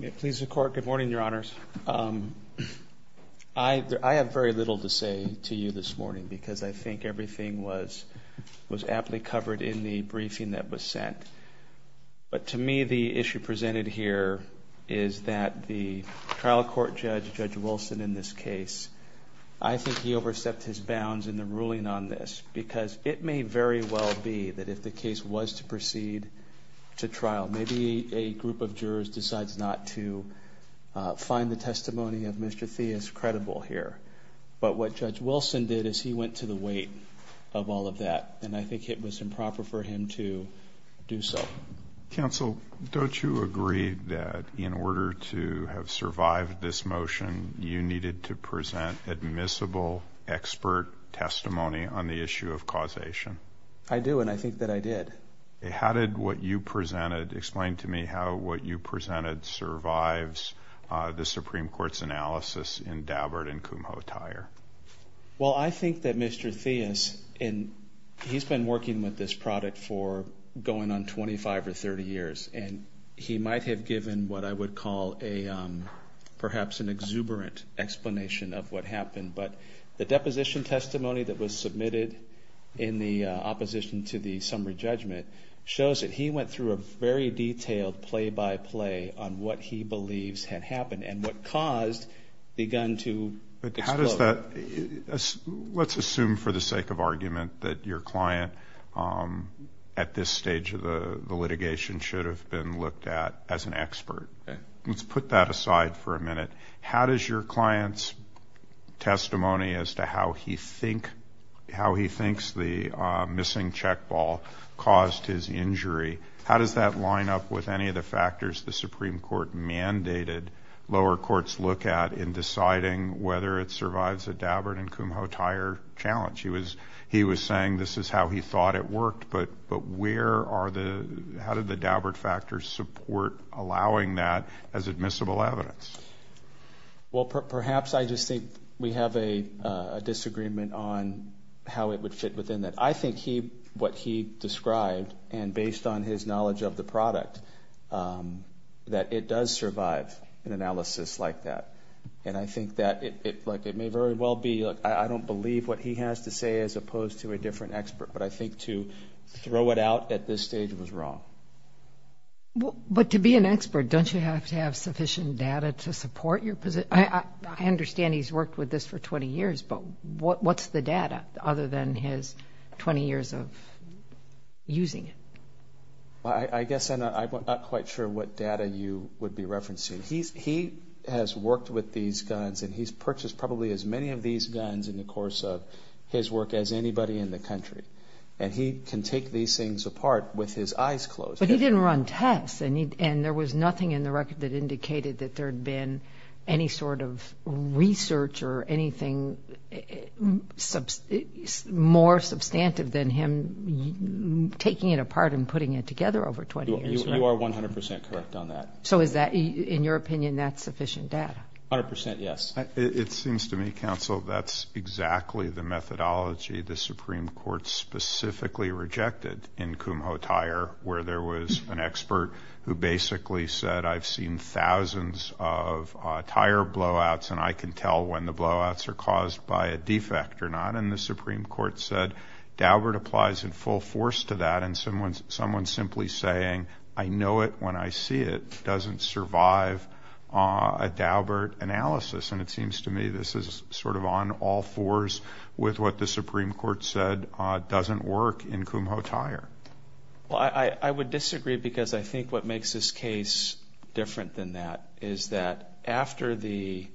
Good morning, Your Honors. I have very little to say to you this morning, because I think everything was aptly covered in the briefing that was sent. But to me, the issue presented here is that the trial court judge, Judge Wilson, in this case, I think he overstepped his bounds in the ruling on this. Because it may very well be that if the case was to proceed to trial, maybe a group of jurors decides not to find the testimony of Mr. Theis credible here. But what Judge Wilson did is he went to the weight of all of that, and I think it was improper for him to do so. Counsel, don't you agree that in order to have survived this motion, you needed to present admissible expert testimony on the issue of causation? I do, and I think that I did. How did what you presented explain to me how what you presented survives the Supreme Court's analysis in Dabbard and Kumho Tire? Well, I think that Mr. Theis, and he's been working with this product for going on 25 or 30 years, and he might have given what I would call perhaps an exuberant explanation of what happened. But the deposition testimony that was submitted in the opposition to the summary judgment shows that he went through a very detailed play-by-play on what he believes had happened and what caused the gun to explode. But how does that – let's assume for the sake of argument that your client at this stage of the litigation should have been looked at as an expert. Let's put that aside for a minute. How does your client's testimony as to how he thinks the missing check ball caused his injury, how does that line up with any of the factors the Supreme Court mandated lower courts look at in deciding whether it survives a Dabbard and Kumho Tire challenge? He was saying this is how he thought it worked, but where are the – how did the Dabbard factors support allowing that as admissible evidence? Well, perhaps I just think we have a disagreement on how it would fit within that. I think he – what he described, and based on his knowledge of the product, that it does survive an analysis like that. And I think that it may very well be – I don't believe what he has to say as opposed to a different expert, but I think to throw it out at this stage was wrong. But to be an expert, don't you have to have sufficient data to support your – I understand he's worked with this for 20 years, but what's the data other than his 20 years of using it? I guess I'm not quite sure what data you would be referencing. He has worked with these guns and he's purchased probably as many of these guns in the course of his work as anybody in the country. And he can take these things apart with his eyes closed. But he didn't run tests and there was nothing in the record that indicated that there had been any sort of research or anything more substantive than him taking it apart and putting it together over 20 years. You are 100 percent correct on that. So is that – in your opinion, that's sufficient data? 100 percent yes. It seems to me, counsel, that's exactly the methodology the Supreme Court specifically rejected in Kumho Tire, where there was an expert who basically said I've seen thousands of tire blowouts and I can tell when the blowouts are caused by a defect or not. And the Supreme Court said Daubert applies in full force to that. And someone simply saying I know it when I see it doesn't survive a Daubert analysis. And it seems to me this is sort of on all fours with what the Supreme Court said doesn't work in Kumho Tire. Well, I would disagree because I think what makes this case different than that is that after the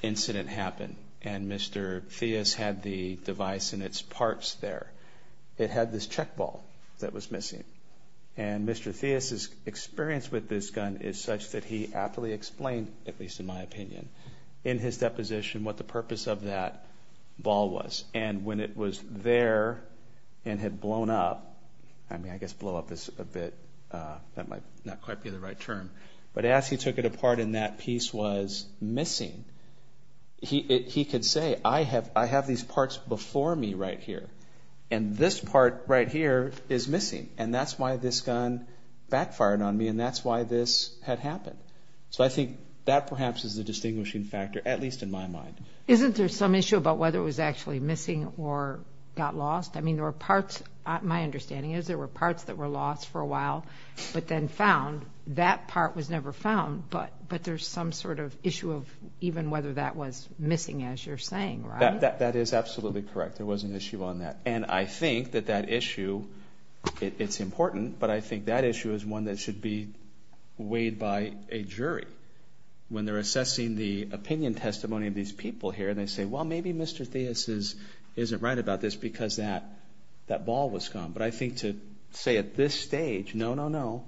incident happened and Mr. Theis had the device and its parts there, it had this check ball that was missing. And Mr. Theis' experience with this gun is such that he aptly explained, at least in my opinion, in his deposition what the purpose of that ball was. And when it was there and had blown up – I mean, I guess blow up is a bit – that might not quite be the right term – but as he took it apart and that piece was missing, he could say I have these parts before me right here and this part right here is missing. And that's why this gun backfired on me and that's why this had happened. So I think that perhaps is the distinguishing factor, at least in my mind. Isn't there some issue about whether it was actually missing or got lost? I mean, there were parts – my understanding is there were parts that were lost for a while but then found. That part was never found. But there's some sort of issue of even whether that was missing, as you're saying, right? That is absolutely correct. There was an issue on that. And I think that that issue – it's important – but I think that issue is one that should be weighed by a jury. When they're assessing the opinion testimony of these people here, they say, well, maybe Mr. Theis isn't right about this because that ball was gone. But I think to say at this stage, no, no, no,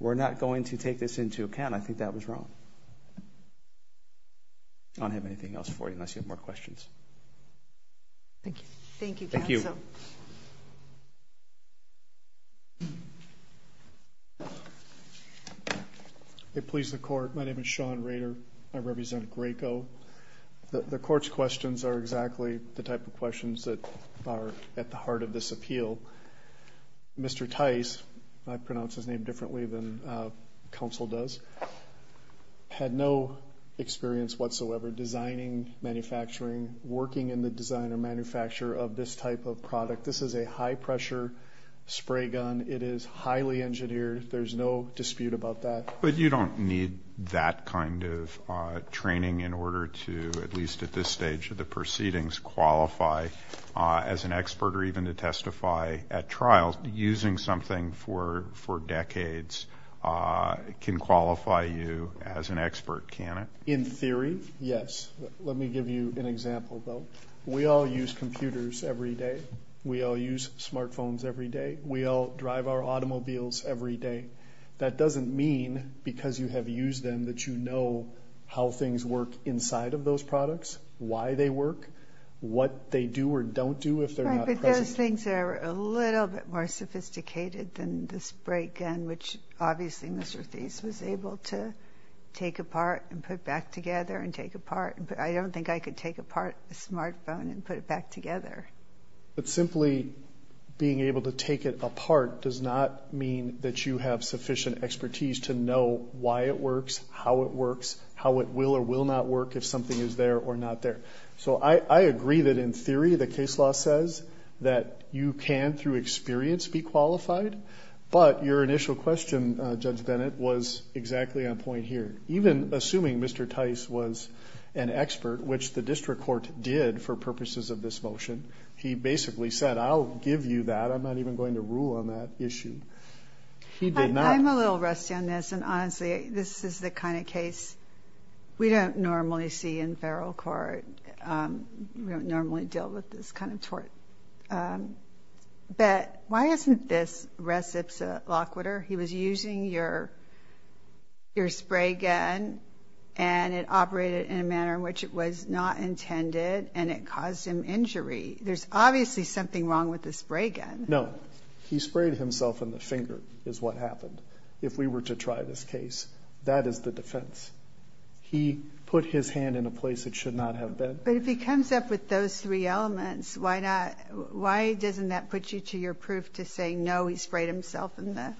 we're not going to take this into account, I think that was wrong. I don't have anything else for you unless you have more questions. Thank you. Thank you, counsel. Thank you. It pleased the court. My name is Sean Rader. I represent Graco. The court's questions are exactly the type of questions that are at the heart of this appeal. Mr. Theis – I pronounce his name differently than counsel does – had no experience whatsoever designing, manufacturing, working in the design or manufacture of this type of product. This is a high-pressure spray gun. It is highly engineered. There's no dispute about that. But you don't need that kind of training in order to, at least at this stage of the proceedings, qualify as an expert or even to testify at trial. Using something for decades can qualify you as an expert, can it? In theory, yes. Let me give you an example, though. We all use computers every day. We all use smartphones every day. We all drive our automobiles every day. That doesn't mean, because you have used them, that you know how things work inside of those products, why they work, what they do or don't do if they're not present. Right, but those things are a little bit more sophisticated than the spray gun, which obviously Mr. Theis was able to take apart and put back together and take apart. I don't think I could take apart a smartphone and put it back together. But simply being able to take it apart does not mean that you have sufficient expertise to know why it works, how it works, how it will or will not work if something is there or not there. So I agree that, in theory, the case law says that you can, through experience, be qualified. But your initial question, Judge Bennett, was exactly on point here. Even assuming Mr. Theis was an expert, which the district court did for purposes of this motion, he basically said, I'll give you that. I'm not even going to rule on that issue. He did not. I'm a little rusty on this, and honestly, this is the kind of case we don't normally see in federal court. We don't normally deal with this kind of tort. But why isn't this res ipsa loquitur? He was using your spray gun, and it operated in a manner in which it was not intended, and it caused him injury. There's obviously something wrong with the spray gun. No. He sprayed himself in the finger is what happened. If we were to try this case, that is the defense. He put his hand in a place it should not have been. But if he comes up with those three elements, why doesn't that put you to your proof to say, no, he sprayed himself in the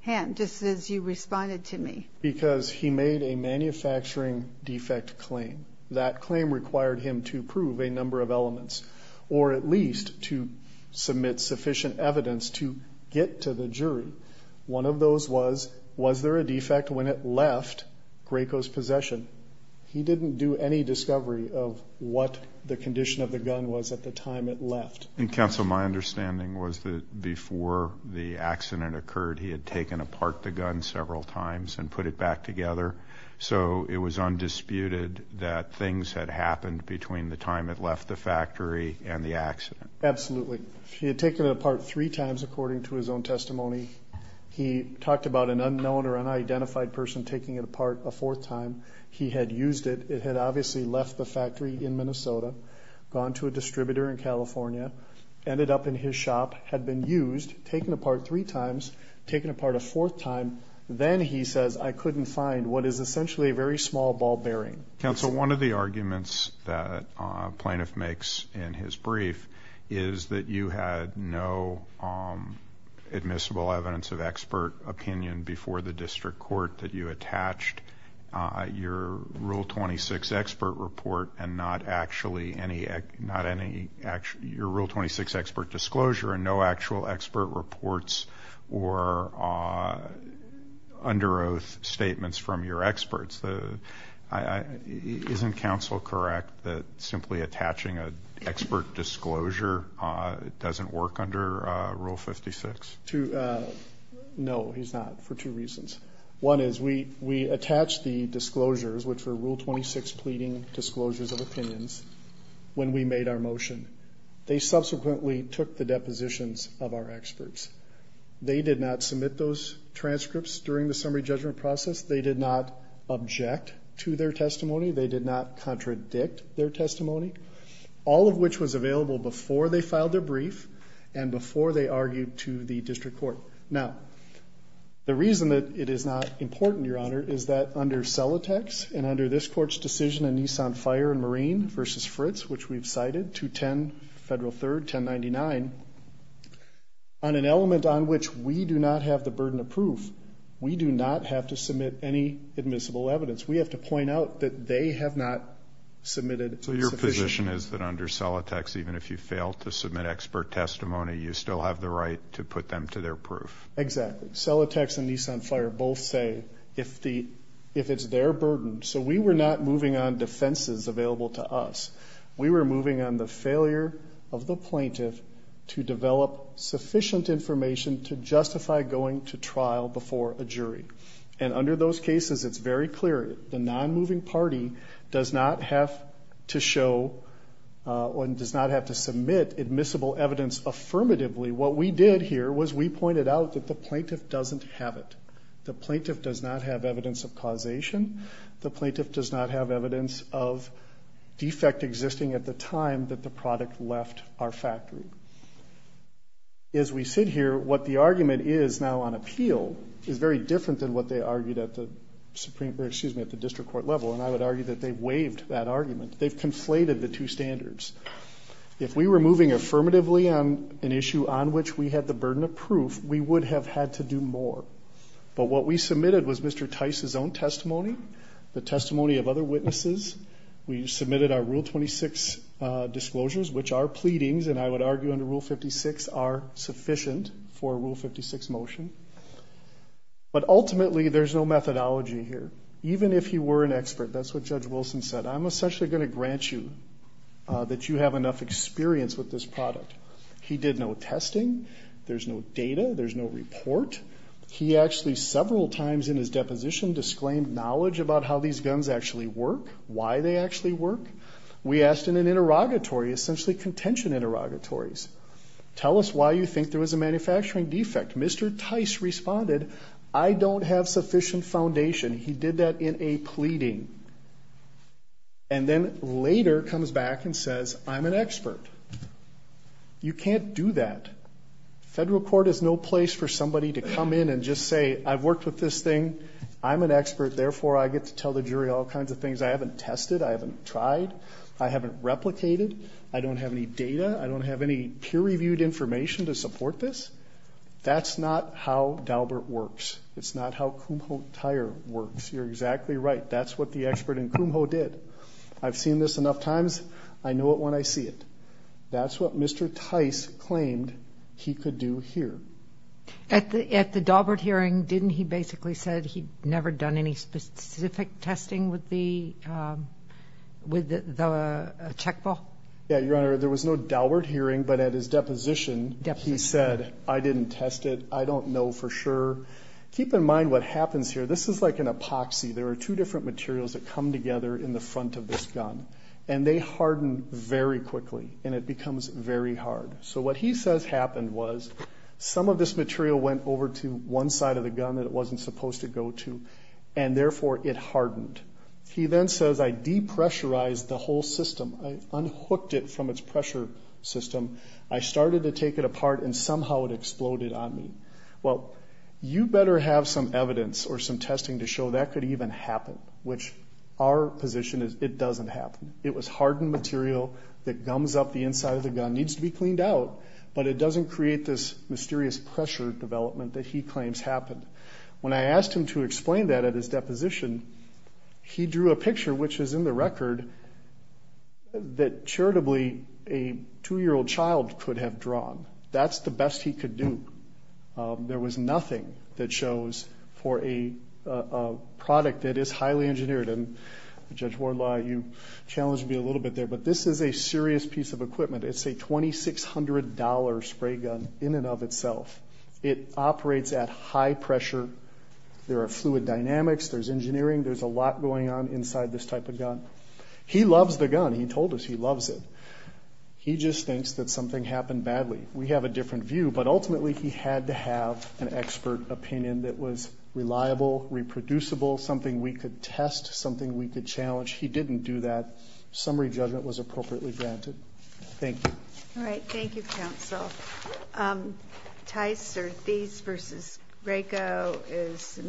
hand, just as you responded to me? Because he made a manufacturing defect claim. That claim required him to prove a number of elements, or at least to submit sufficient evidence to get to the jury. One of those was, was there a defect when it left Graco's possession? He didn't do any discovery of what the condition of the gun was at the time it left. Counsel, my understanding was that before the accident occurred, he had taken apart the gun several times and put it back together, so it was undisputed that things had happened between the time it left the factory and the accident. Absolutely. He had taken it apart three times, according to his own testimony. He talked about an unknown or unidentified person taking it apart a fourth time. He had used it. It had obviously left the factory in Minnesota, gone to a distributor in California, ended up in his shop, had been used, taken apart three times, taken apart a fourth time. Then he says, I couldn't find what is essentially a very small ball bearing. Counsel, one of the arguments that a plaintiff makes in his brief is that you had no admissible evidence of expert opinion before the district court that you attached your Rule 26 expert report and not actually any, not any, your Rule 26 expert disclosure and no actual expert reports or under oath statements from your experts. Isn't counsel correct that simply attaching an expert disclosure doesn't work under Rule 56? No, he's not, for two reasons. One is we attached the disclosures, which were Rule 26 pleading disclosures of opinions, when we made our motion. They subsequently took the depositions of our experts. They did not submit those transcripts during the summary judgment process. They did not object to their testimony. They did not contradict their testimony, all of which was available before they filed their brief and before they argued to the district court. Now, the reason that it is not important, Your Honor, is that under Celotex and under this Court's decision in Nissan Fire and Marine v. Fritz, which we've cited, 210 Federal 3rd, 1099, on an element on which we do not have the burden of proof, we do not have to submit any admissible evidence. We have to point out that they have not submitted sufficient. The condition is that under Celotex, even if you fail to submit expert testimony, you still have the right to put them to their proof. Exactly. Celotex and Nissan Fire both say if it's their burden. So we were not moving on defenses available to us. We were moving on the failure of the plaintiff to develop sufficient information to justify going to trial before a jury. And under those cases, it's very clear the nonmoving party does not have to show or does not have to submit admissible evidence affirmatively. What we did here was we pointed out that the plaintiff doesn't have it. The plaintiff does not have evidence of causation. The plaintiff does not have evidence of defect existing at the time that the product left our factory. As we sit here, what the argument is now on appeal is very different than what they argued at the Supreme Court or, excuse me, at the district court level. And I would argue that they've waived that argument. They've conflated the two standards. If we were moving affirmatively on an issue on which we had the burden of proof, we would have had to do more. But what we submitted was Mr. Tice's own testimony, the testimony of other witnesses. We submitted our Rule 26 disclosures, which are pleadings, and I would argue under Rule 56 are sufficient for a Rule 56 motion. But ultimately, there's no methodology here. Even if you were an expert, that's what Judge Wilson said, I'm essentially going to grant you that you have enough experience with this product. He did no testing. There's no data. There's no report. He actually several times in his deposition disclaimed knowledge about how these guns actually work, why they actually work. We asked in an interrogatory, essentially contention interrogatories, tell us why you think there was a manufacturing defect. Mr. Tice responded, I don't have sufficient foundation. He did that in a pleading. And then later comes back and says, I'm an expert. You can't do that. Federal court is no place for somebody to come in and just say, I've worked with this thing. I'm an expert. Therefore, I get to tell the jury all kinds of things. I haven't tested. I haven't tried. I haven't replicated. I don't have any data. I don't have any peer-reviewed information to support this. That's not how Daubert works. It's not how Kumho Tire works. You're exactly right. That's what the expert in Kumho did. I've seen this enough times. I know it when I see it. That's what Mr. Tice claimed he could do here. At the Daubert hearing, didn't he basically said he'd never done any specific testing with the checkball? Yeah, Your Honor, there was no Daubert hearing. But at his deposition, he said, I didn't test it. I don't know for sure. Keep in mind what happens here. This is like an epoxy. There are two different materials that come together in the front of this gun. And they harden very quickly. And it becomes very hard. So what he says happened was some of this material went over to one side of the gun that it wasn't supposed to go to, and, therefore, it hardened. He then says, I depressurized the whole system. I unhooked it from its pressure system. I started to take it apart, and somehow it exploded on me. Well, you better have some evidence or some testing to show that could even happen, which our position is it doesn't happen. It was hardened material that gums up the inside of the gun. It needs to be cleaned out, but it doesn't create this mysterious pressure development that he claims happened. When I asked him to explain that at his deposition, he drew a picture, which is in the record, that charitably a 2-year-old child could have drawn. That's the best he could do. There was nothing that shows for a product that is highly engineered. And, Judge Wardlaw, you challenged me a little bit there, but this is a serious piece of equipment. It's a $2,600 spray gun in and of itself. It operates at high pressure. There are fluid dynamics. There's engineering. There's a lot going on inside this type of gun. He loves the gun. He told us he loves it. He just thinks that something happened badly. We have a different view, but, ultimately, he had to have an expert opinion that was reliable, reproducible, something we could test, something we could challenge. He didn't do that. Summary judgment was appropriately granted. Thank you. All right. Thank you, counsel. Tice or Thies v. Graco is submitted.